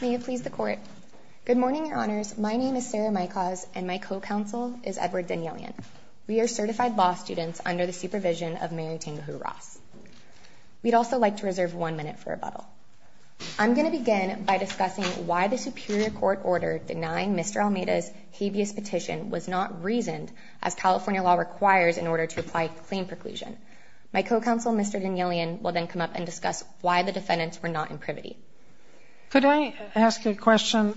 May it please the Court. Good morning, Your Honors. My name is Sarah Mykos and my co-counsel is Edward Danielian. We are certified law students under the supervision of Mary Tengahoo Ross. We'd also like to reserve one minute for rebuttal. I'm going to begin by discussing why the Superior Court order denying Mr. Almeida's habeas petition was not reasoned as California law requires in order to apply claim preclusion. My co-counsel, Mr. Danielian, will then come up and discuss why the defendants were not in privity. Could I ask a question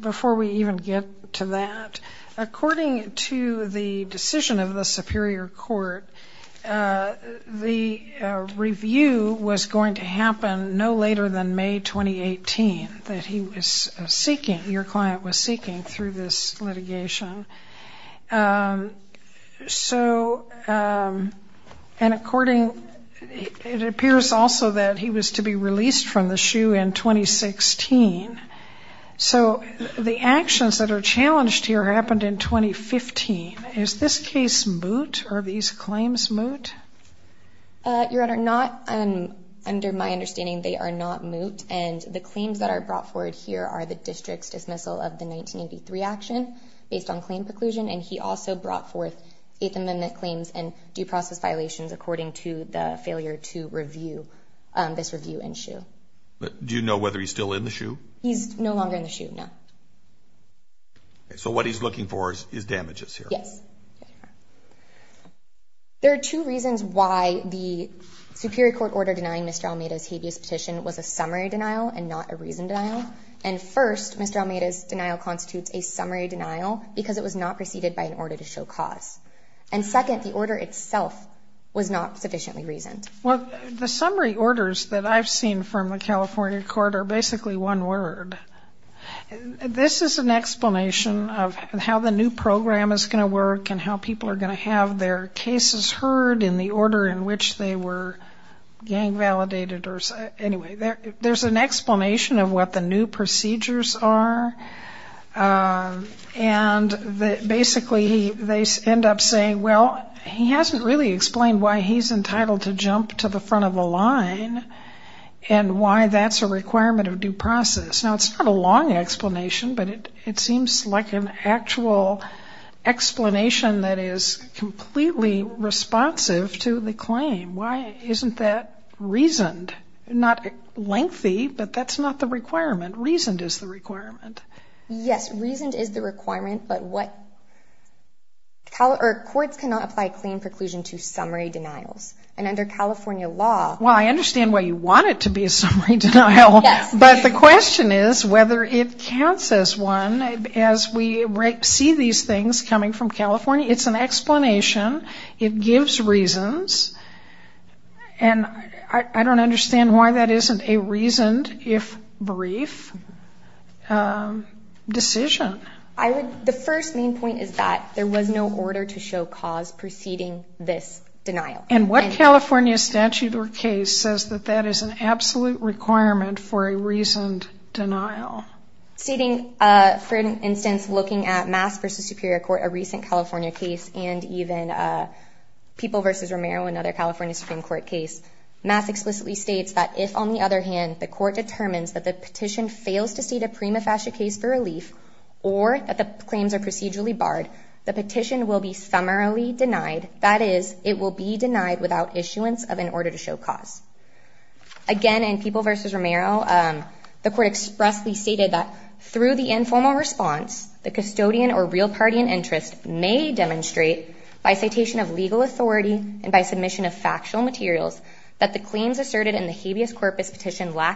before we even get to that? According to the decision of the Superior Court, the review was going to happen no later than May 2018 that he was seeking through this litigation. So, and according, it appears also that he was to be released from the SHU in 2016. So the actions that are challenged here happened in 2015. Is this case moot? Are these claims moot? Your Honor, not under my understanding. They are not moot and the claims that are brought forward here are the district's dismissal of the 1983 action based on claim preclusion and he also brought forth Eighth Amendment claims and due process violations according to the failure to review this review in SHU. But do you know whether he's still in the SHU? He's no longer in the SHU, no. So what he's looking for is damages here? Yes. There are two reasons why the Superior Court order denying Mr. Almeida's habeas petition was a summary denial and not a reasoned denial. And first, Mr. Almeida's denial constitutes a summary denial because it was not preceded by an order to show cause. And second, the order itself was not sufficiently reasoned. Well, the summary orders that I've seen from the California court are basically one word. This is an explanation of how the new program is going to work and how people are going to have their cases heard in the order in which they were gang validated. Anyway, there's an explanation of what the new procedures are and basically they end up saying, well, he hasn't really explained why he's entitled to jump to the front of the line and why that's a requirement of due process. Now, it's not a long explanation, but it seems like an actual explanation that is but that's not the requirement. Reasoned is the requirement. Yes, reasoned is the requirement, but courts cannot apply claim preclusion to summary denials. And under California law... Well, I understand why you want it to be a summary denial, but the question is whether it counts as one. As we see these things coming from California, it's an explanation. It gives reasons, and I would, the first main point is that there was no order to show cause preceding this denial. And what California statute or case says that that is an absolute requirement for a reasoned denial? For instance, looking at Mass v. Superior Court, a recent California case, and even People v. Romero, another California Supreme Court case, Mass explicitly states that if, on the other hand, the court determines that the petition fails to cede a prima facie case for relief or that the claims are procedurally barred, the petition will be summarily denied. That is, it will be denied without issuance of an order to show cause. Again, in People v. Romero, the court expressly stated that through the informal response, the custodian or real party in interest may demonstrate by citation of legal authority and by lack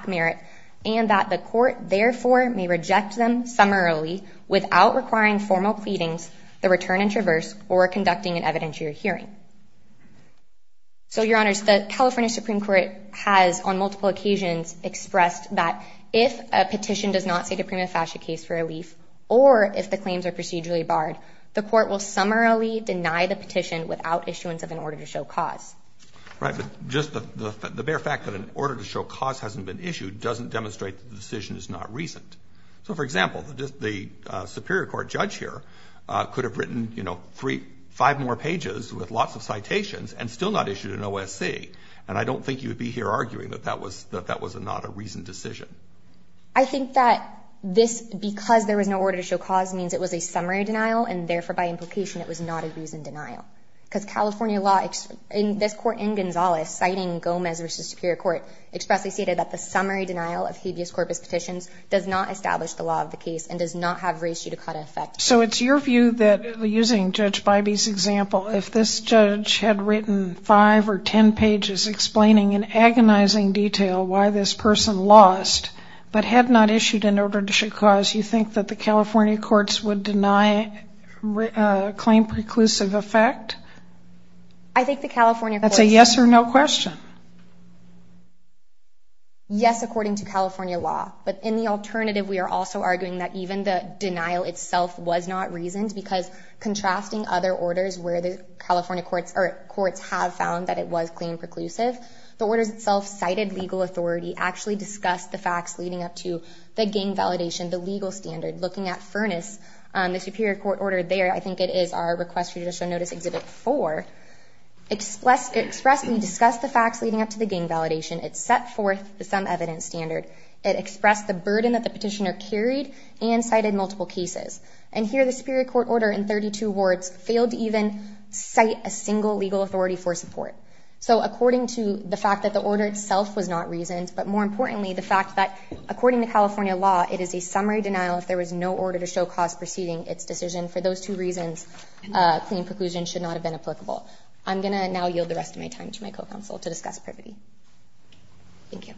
merit, and that the court, therefore, may reject them summarily without requiring formal pleadings, the return in traverse, or conducting an evidentiary hearing. So, Your Honors, the California Supreme Court has, on multiple occasions, expressed that if a petition does not cede a prima facie case for relief or if the claims are procedurally barred, the court will summarily deny the petition without issuance of an order to show cause. Right, but just the bare fact that an order to show cause hasn't been issued doesn't demonstrate the decision is not reasoned. So, for example, the Superior Court judge here could have written, you know, three, five more pages with lots of citations and still not issued an OSC, and I don't think you would be here arguing that that was, that that was not a reasoned decision. I think that this, because there was no order to show cause, means it was a summary denial, and therefore, by implication, it was not a reasoned denial. Because California law, in this court, in Gonzales, citing Gomez v. Superior Court, expressly stated that the summary denial of habeas corpus petitions does not establish the law of the case and does not have reissued a cauda effect. So, it's your view that, using Judge Bybee's example, if this judge had written five or ten pages explaining in agonizing detail why this person lost but had not issued an order to show cause, you think that the California courts would deny a claim preclusive effect? I think the California courts... That's a yes or no question. Yes, according to California law, but in the alternative, we are also arguing that even the denial itself was not reasoned, because contrasting other orders where the California courts or courts have found that it was claim preclusive, the orders itself cited legal authority, actually discussed the facts leading up to the gang validation, the legal standard, looking at Furness, the Superior Court order there, I think it is our request you to show notice Exhibit 4, expressly discussed the facts leading up to the gang validation, it set forth the sum evidence standard, it expressed the burden that the petitioner carried and cited multiple cases, and here the Superior Court order in 32 words failed to even cite a single legal authority for support. So, according to the fact that the order itself was not reasoned, but more importantly, the fact that according to California law, it is a summary denial if there was no order to show cause preceding its decision. For those two reasons, claim preclusion should not have been applicable. I'm going to now yield the rest of my time to my co-counsel to discuss privity. Thank you.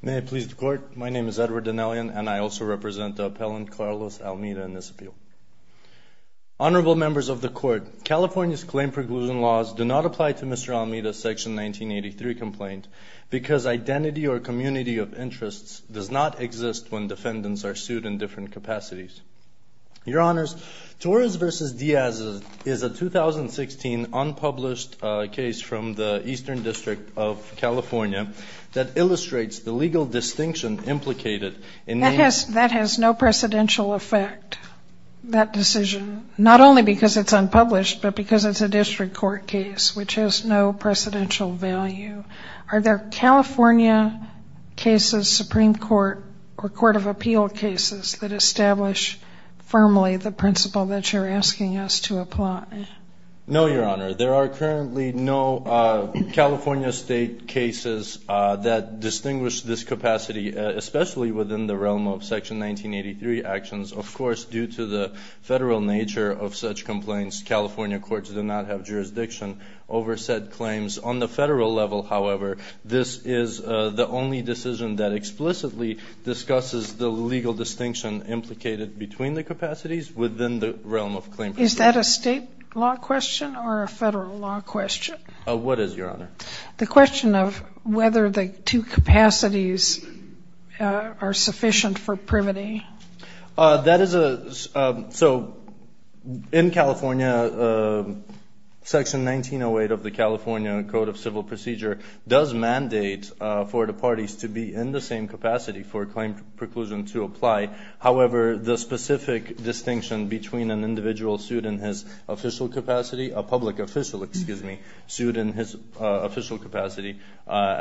May it please the Court, my name is Edward Dinellian and I also represent the appellant Carlos Almeida in this appeal. Honorable members of the Court, California's claim preclusion laws do not apply to Mr. Almeida's Section 1983 complaint because identity or community of interests does not exist when defendants are sued in different capacities. Your Honors, Torres versus California, that illustrates the legal distinction implicated in the That has no precedential effect, that decision, not only because it's unpublished but because it's a district court case, which has no precedential value. Are there California cases, Supreme Court or Court of Appeal cases that establish firmly the principle that you're asking us to apply? No, Your Honor. There are currently no California state cases that distinguish this capacity, especially within the realm of Section 1983 actions. Of course, due to the federal nature of such complaints, California courts do not have jurisdiction over said claims. On the federal level, however, this is the only decision that explicitly discusses the legal distinction implicated between the law question or a federal law question? What is, Your Honor? The question of whether the two capacities are sufficient for privity. That is a, so in California, Section 1908 of the California Code of Civil Procedure does mandate for the parties to be in the same capacity for claim preclusion to apply. However, the capacity, a public official, excuse me, sued in his official capacity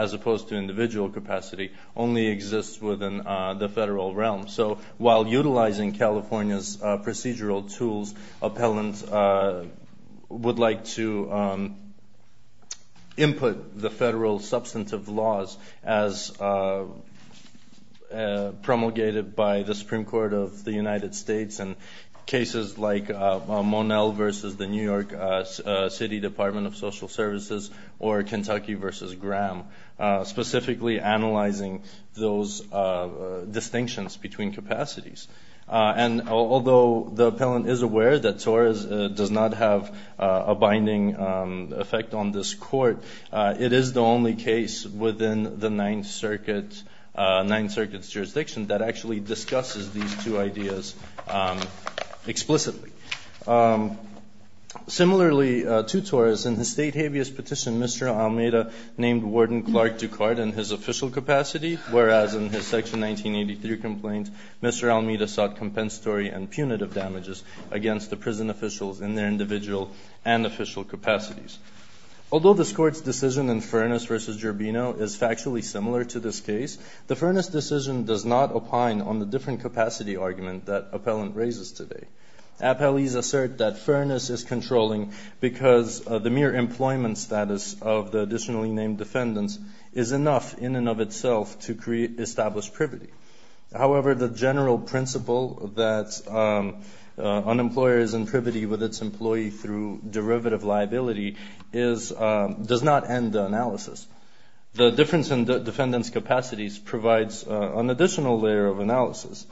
as opposed to individual capacity, only exists within the federal realm. So while utilizing California's procedural tools, appellants would like to input the federal substantive laws as promulgated by the Supreme Court of the United States, the New York City Department of Social Services, or Kentucky v. Graham, specifically analyzing those distinctions between capacities. And although the appellant is aware that TOR does not have a binding effect on this court, it is the only case within the Ninth Circuit's jurisdiction that actually discusses these two ideas explicitly. Similarly, to TOR, in his state habeas petition, Mr. Almeida named Warden Clark Ducard in his official capacity, whereas in his Section 1983 complaint, Mr. Almeida sought compensatory and punitive damages against the prison officials in their individual and official capacities. Although this court's decision in Furness v. Gerbino is factually similar to this case, the Furness decision does not opine on the different capacity argument that appellant raises today. Appellees assert that Furness is controlling because the mere employment status of the additionally named defendants is enough in and of itself to create established privity. However, the general principle that unemployer is in privity with its employee through derivative liability does not end the analysis. The difference in the defendant's capacities provides an additional layer of analysis.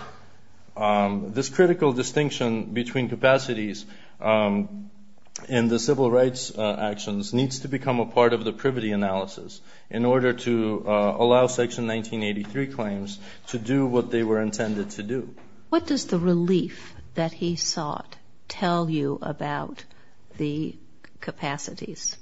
This critical distinction between capacities and the civil rights actions needs to become a part of the privity analysis in order to allow Section 1983 claims to do what they were intended to do. What does the relief that he sought tell you about the capacities?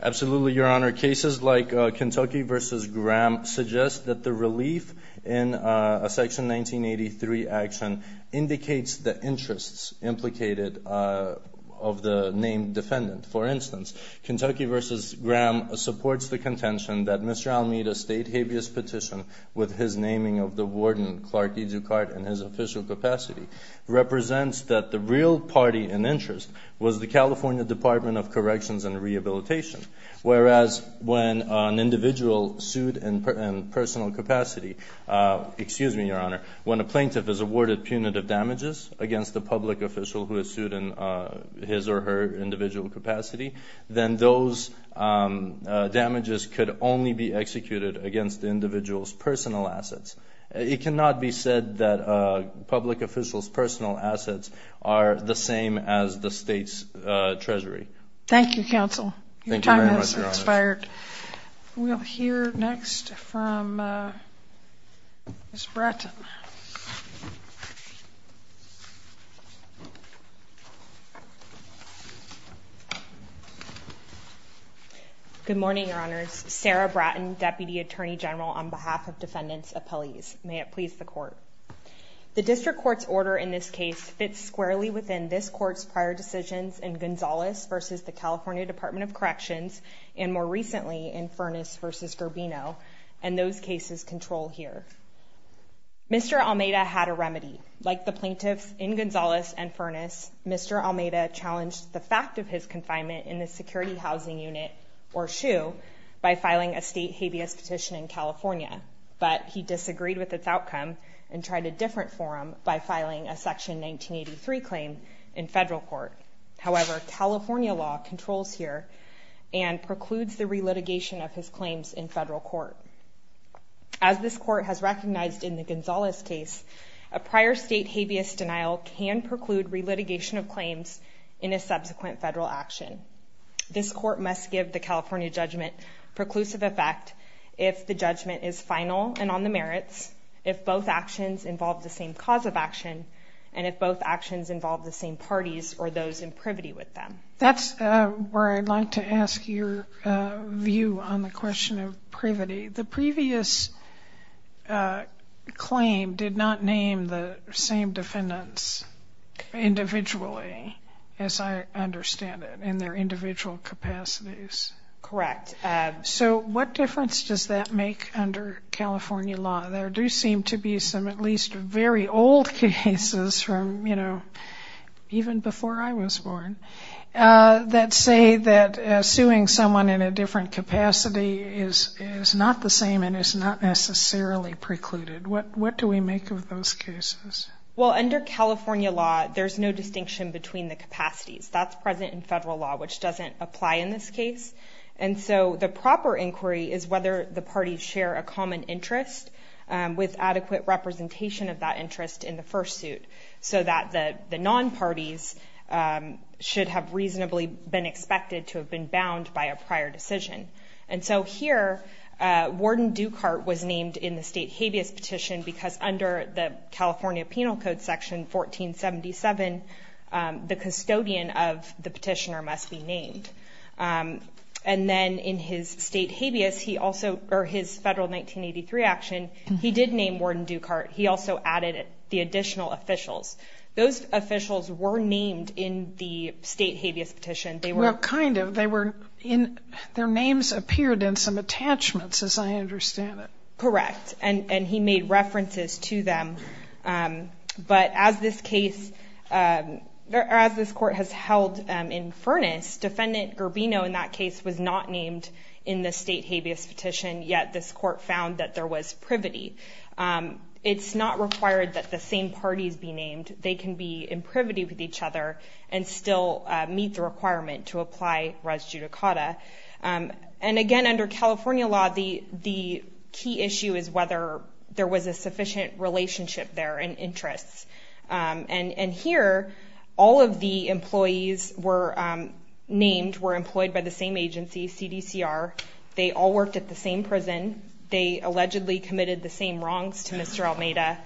Absolutely, Your Honor. Cases like Kentucky v. Graham suggest that the relief in a Section 1983 action indicates the interests implicated of the named defendant. For instance, Kentucky v. Graham supports the contention that Mr. Almeida's state habeas petition with his naming of the warden, Clark E. Ducard, in his official capacity represents that the real party in interest was the California Department of Corrections and Rehabilitation, whereas when an individual sued in personal capacity, excuse me, Your Honor, when a plaintiff is awarded punitive damages against the public official who is sued in his or her individual capacity, then those damages could only be executed against the individual's personal assets. It cannot be said that public officials' personal assets are the same as the state's Treasury. Thank you, Counsel. Your time has expired. We'll hear next from Ms. Bratton. Good morning, Your Honors. Sarah Bratton, Deputy Attorney General on behalf of this case fits squarely within this Court's prior decisions in Gonzales v. the California Department of Corrections, and more recently in Furness v. Garbino, and those cases control here. Mr. Almeida had a remedy. Like the plaintiffs in Gonzales and Furness, Mr. Almeida challenged the fact of his confinement in the Security Housing Unit, or SHU, by filing a state habeas petition in California, but he disagreed with its outcome and tried a different forum by filing a Section 1983 claim in federal court. However, California law controls here and precludes the relitigation of his claims in federal court. As this Court has recognized in the Gonzales case, a prior state habeas denial can preclude relitigation of claims in a subsequent federal action. This Court must give the California judgment preclusive effect if the action, and if both actions involve the same parties or those in privity with them. That's where I'd like to ask your view on the question of privity. The previous claim did not name the same defendants individually, as I understand it, in their individual capacities. Correct. So what difference does that make to the old cases from, you know, even before I was born, that say that suing someone in a different capacity is not the same and is not necessarily precluded? What do we make of those cases? Well, under California law, there's no distinction between the capacities. That's present in federal law, which doesn't apply in this case, and so the proper inquiry is whether the parties share a common interest with adequate representation of that interest in the first suit, so that the non-parties should have reasonably been expected to have been bound by a prior decision. And so here, Warden Dukart was named in the state habeas petition because under the California Penal Code section 1477, the custodian of the petitioner must be named. And then in his state habeas, he also, or his federal 1983 action, he did name Warden Dukart. He also added the additional officials. Those officials were named in the state habeas petition. Well, kind of. Their names appeared in some attachments, as I understand it. Correct. And he made references to them, but as this case, as this court has held in furnace, Defendant Garbino in that case was not named in the state habeas petition, yet this court found that there was privity. It's not required that the same parties be named. They can be in privity with each other and still meet the requirement to apply res judicata. And again, under California law, the key issue is whether there was a sufficient relationship there in interests. And here, all of the employees were named, were employed by the same agency, CDCR. They all worked at the same prison. They allegedly committed the same wrongs to Mr. Almeida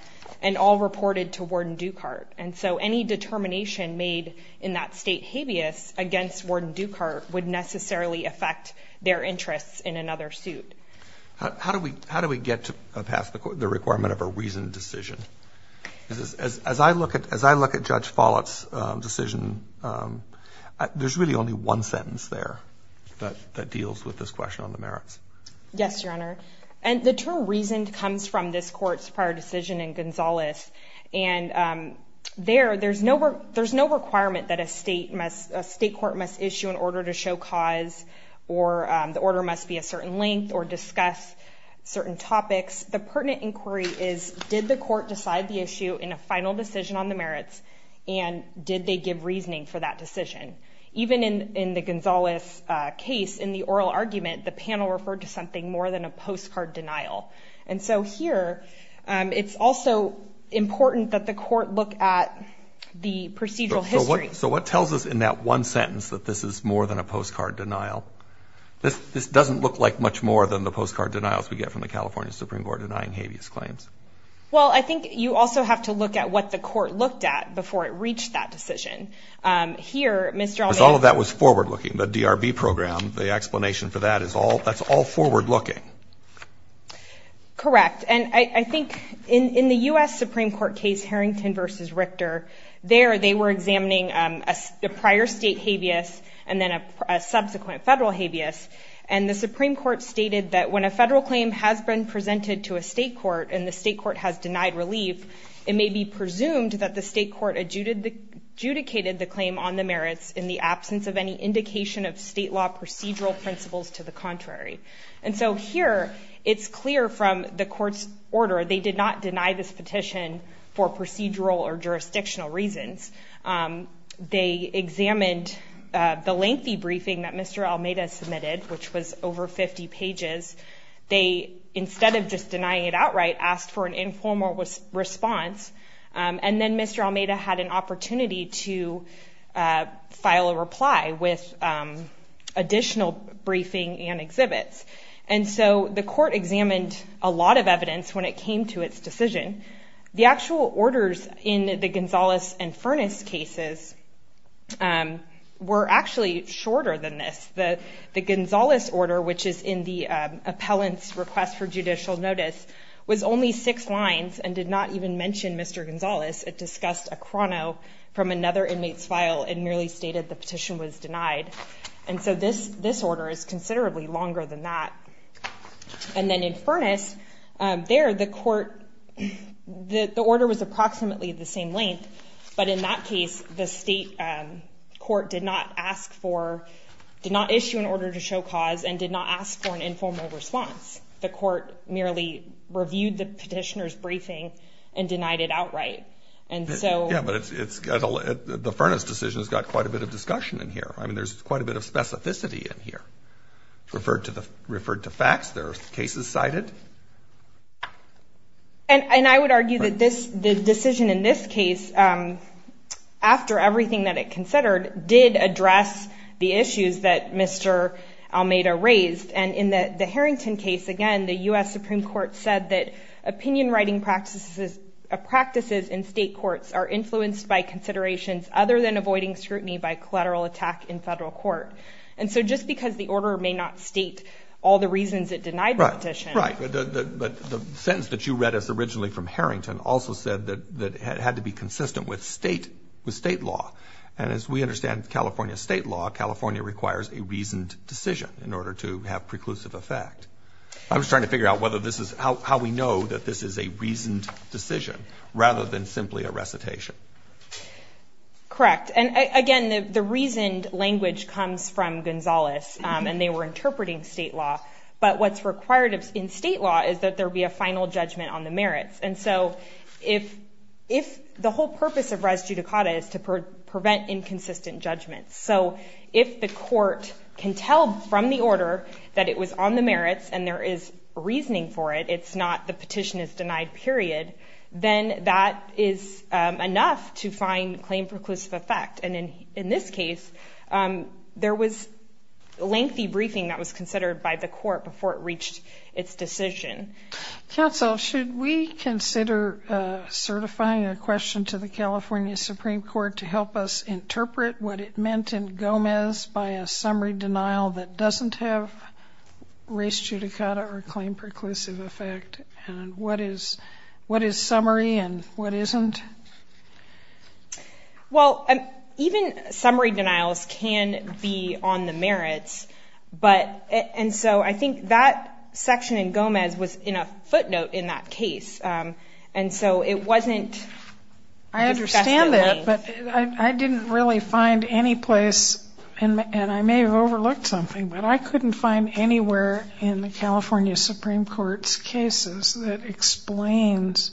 and all reported to Warden Dukart. And so any determination made in that state habeas against Warden Dukart would necessarily affect their interests in another suit. How do we get to pass the requirement of a reasoned decision? As I look at Judge Follett's decision, there's really only one sentence there that deals with this question on the merits. Yes, Your Honor, and the term reasoned comes from this court's prior decision in Gonzales. And there, there's no requirement that a state must, a state court must issue an order to show cause or the order must be a certain length or discuss certain topics. The pertinent inquiry is, did the court decide the issue in a final decision on the merits and did they give reasoning for that decision? Even in the Gonzales case, in the oral argument, the panel referred to something more than a postcard denial. And so here, it's also important that the court look at the procedural history. So what tells us in that one sentence that this is more than a postcard denial? This doesn't look like much more than the postcard denials we get from the California Supreme Court denying habeas claims. Well, I think you also have to look at what the Supreme Court looked at before it reached that decision. Here, Mr. Allman... Because all of that was forward-looking, the DRB program, the explanation for that is all, that's all forward-looking. Correct. And I think in the U.S. Supreme Court case, Harrington v. Richter, there they were examining a prior state habeas and then a subsequent federal habeas. And the Supreme Court stated that when a federal claim has been presented to a state court and the state court adjudicated the claim on the merits in the absence of any indication of state law procedural principles to the contrary. And so here, it's clear from the court's order they did not deny this petition for procedural or jurisdictional reasons. They examined the lengthy briefing that Mr. Almeida submitted, which was over 50 pages. They, instead of just denying it Mr. Almeida had an opportunity to file a reply with additional briefing and exhibits. And so the court examined a lot of evidence when it came to its decision. The actual orders in the Gonzales and Furness cases were actually shorter than this. The Gonzales order, which is in the appellant's request for judicial notice, was only six lines and did not even mention Mr. Gonzales at all. It only discussed a chrono from another inmate's file and merely stated the petition was denied. And so this this order is considerably longer than that. And then in Furness, there the court, the order was approximately the same length, but in that case the state court did not ask for, did not issue an order to show cause, and did not ask for an informal response. The court merely reviewed the Yeah, but the Furness decision has got quite a bit of discussion in here. I mean, there's quite a bit of specificity in here. Referred to the referred to facts, there are cases cited. And I would argue that this the decision in this case, after everything that it considered, did address the issues that Mr. Almeida raised. And in the the Harrington case, again, the US Supreme Court said that are influenced by considerations other than avoiding scrutiny by collateral attack in federal court. And so just because the order may not state all the reasons it denied the petition. Right, but the sentence that you read us originally from Harrington also said that that had to be consistent with state, with state law. And as we understand California state law, California requires a reasoned decision in order to have preclusive effect. I was trying to figure out whether this is how we know that this is a reasoned Correct. And again, the reasoned language comes from Gonzalez and they were interpreting state law. But what's required in state law is that there be a final judgment on the merits. And so if if the whole purpose of res judicata is to prevent inconsistent judgments. So if the court can tell from the order that it was on the merits and there is reasoning for it, it's not the petition is denied period. Then that is enough to find claim preclusive effect. And in in this case, um, there was lengthy briefing that was considered by the court before it reached its decision. Counsel, should we consider certifying a question to the California Supreme Court to help us interpret what it meant in Gomez by a summary denial that doesn't have race judicata or claim preclusive effect? And what is what is summary and what isn't? Well, even summary denials can be on the merits. But and so I think that section in Gomez was in a footnote in that case. Um, and so it wasn't. I understand that, but I didn't really find any place and I may have overlooked something, but I couldn't find anywhere in the California Supreme Court's cases that explains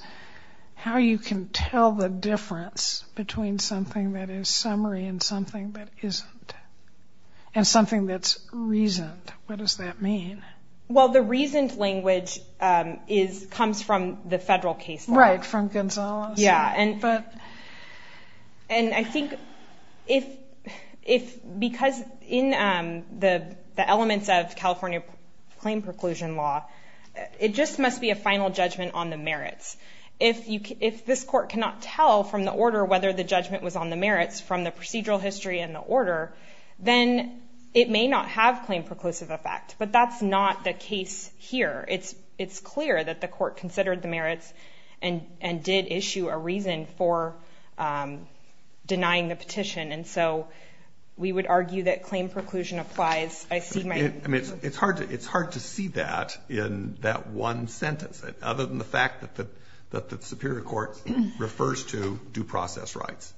how you can tell the difference between something that is summary and something that isn't. And something that's reasoned. What does that mean? Well, the reasoned language is comes from the federal case. Right from Gonzalez. Yeah. And but and I think if if because in, um, the elements of California claim preclusion law, it just must be a final judgment on the merits. If you if this court cannot tell from the order whether the judgment was on the merits from the procedural history in the order, then it may not have claim preclusive effect. But that's not the here. It's it's clear that the court considered the merits and and did issue a reason for, um, denying the petition. And so we would argue that claim preclusion applies. I see. I mean, it's hard. It's hard to see that in that one sentence, other than the fact that that the Superior Court refers to due process rights.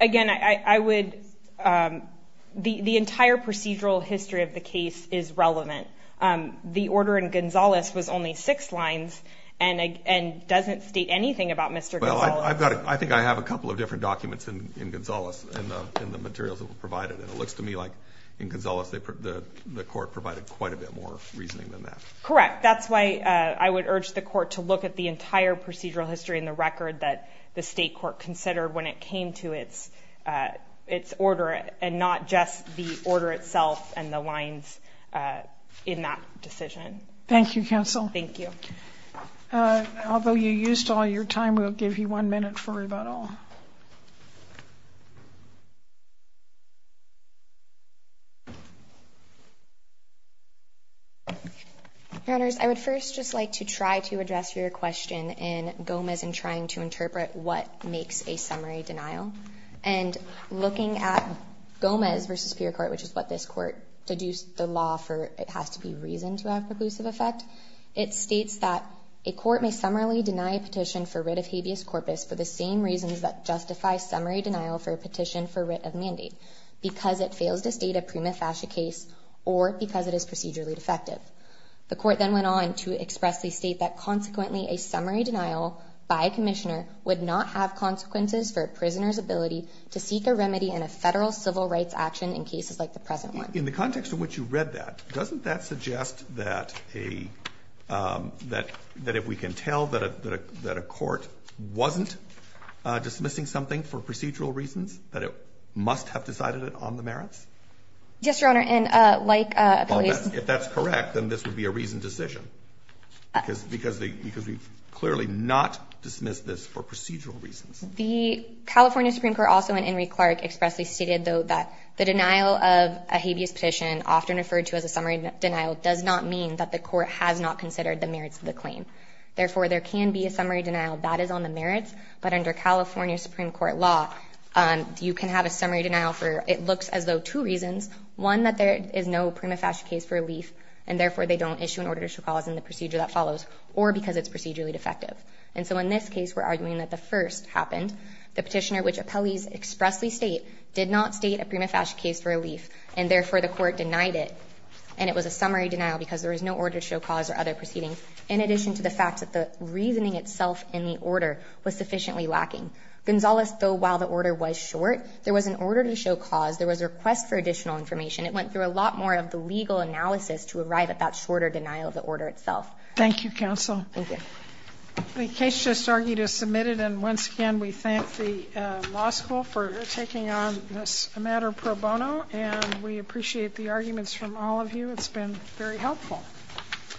Again, I would, um, the entire procedural history of the case is um, the order in Gonzalez was only six lines and and doesn't state anything about Mr. Well, I've got it. I think I have a couple of different documents in in Gonzalez and in the materials that were provided. And it looks to me like in Gonzalez, they put the court provided quite a bit more reasoning than that. Correct. That's why I would urge the court to look at the entire procedural history in the record that the state court considered when it came to its, uh, its order and not just the order itself and the lines, uh, in that decision. Thank you, Counsel. Thank you. Uh, although you used all your time, we'll give you one minute for about all. Your Honours, I would first just like to try to address your question in Gomez in trying to interpret what makes a summary denial and looking at Gomez versus Superior Court, which is what this court deduced the law for. It has to be reason to have reclusive effect. It states that a court may summarily deny a petition for writ of habeas corpus for the same reasons that justify summary denial for a petition for writ of mandate because it fails to state a prima facie case or because it is procedurally defective. The court then went on to expressly state that, consequently, a summary denial by commissioner would not have consequences for prisoners ability to seek a remedy in a federal civil rights action in cases like the present one. In the context in which you read that, doesn't that suggest that a that that if we can tell that a that a court wasn't dismissing something for procedural reasons that it must have decided it on the merits? Yes, Your Honor. And like if that's correct, then this would be a reasoned decision because because because we clearly not dismiss this for procedural reasons. The California Supreme Court, also in Henry Clark, expressly stated, though, that the denial of a habeas petition, often referred to as a summary denial, does not mean that the court has not considered the merits of the claim. Therefore, there can be a summary denial that is on the merits. But under California Supreme Court law, you can have a summary denial for it looks as though two reasons. One, that there is no prima facie case for relief, and therefore they don't issue an order to show cause in the procedure that follows, or because it's procedurally defective. And so in this case, we're arguing that the first happened. The petitioner, which appellees expressly state, did not state a prima facie case for relief, and therefore the court denied it. And it was a summary denial because there was no order to show cause or other proceeding, in addition to the fact that the reasoning itself in the order was sufficiently lacking. Gonzales, though, while the order was short, there was an order to show cause. There was a lot more of the legal analysis to arrive at that shorter denial of the order itself. Thank you, counsel. The case just argued is submitted, and once again, we thank the law school for taking on this matter pro bono, and we appreciate the arguments from all of you. It's been very helpful.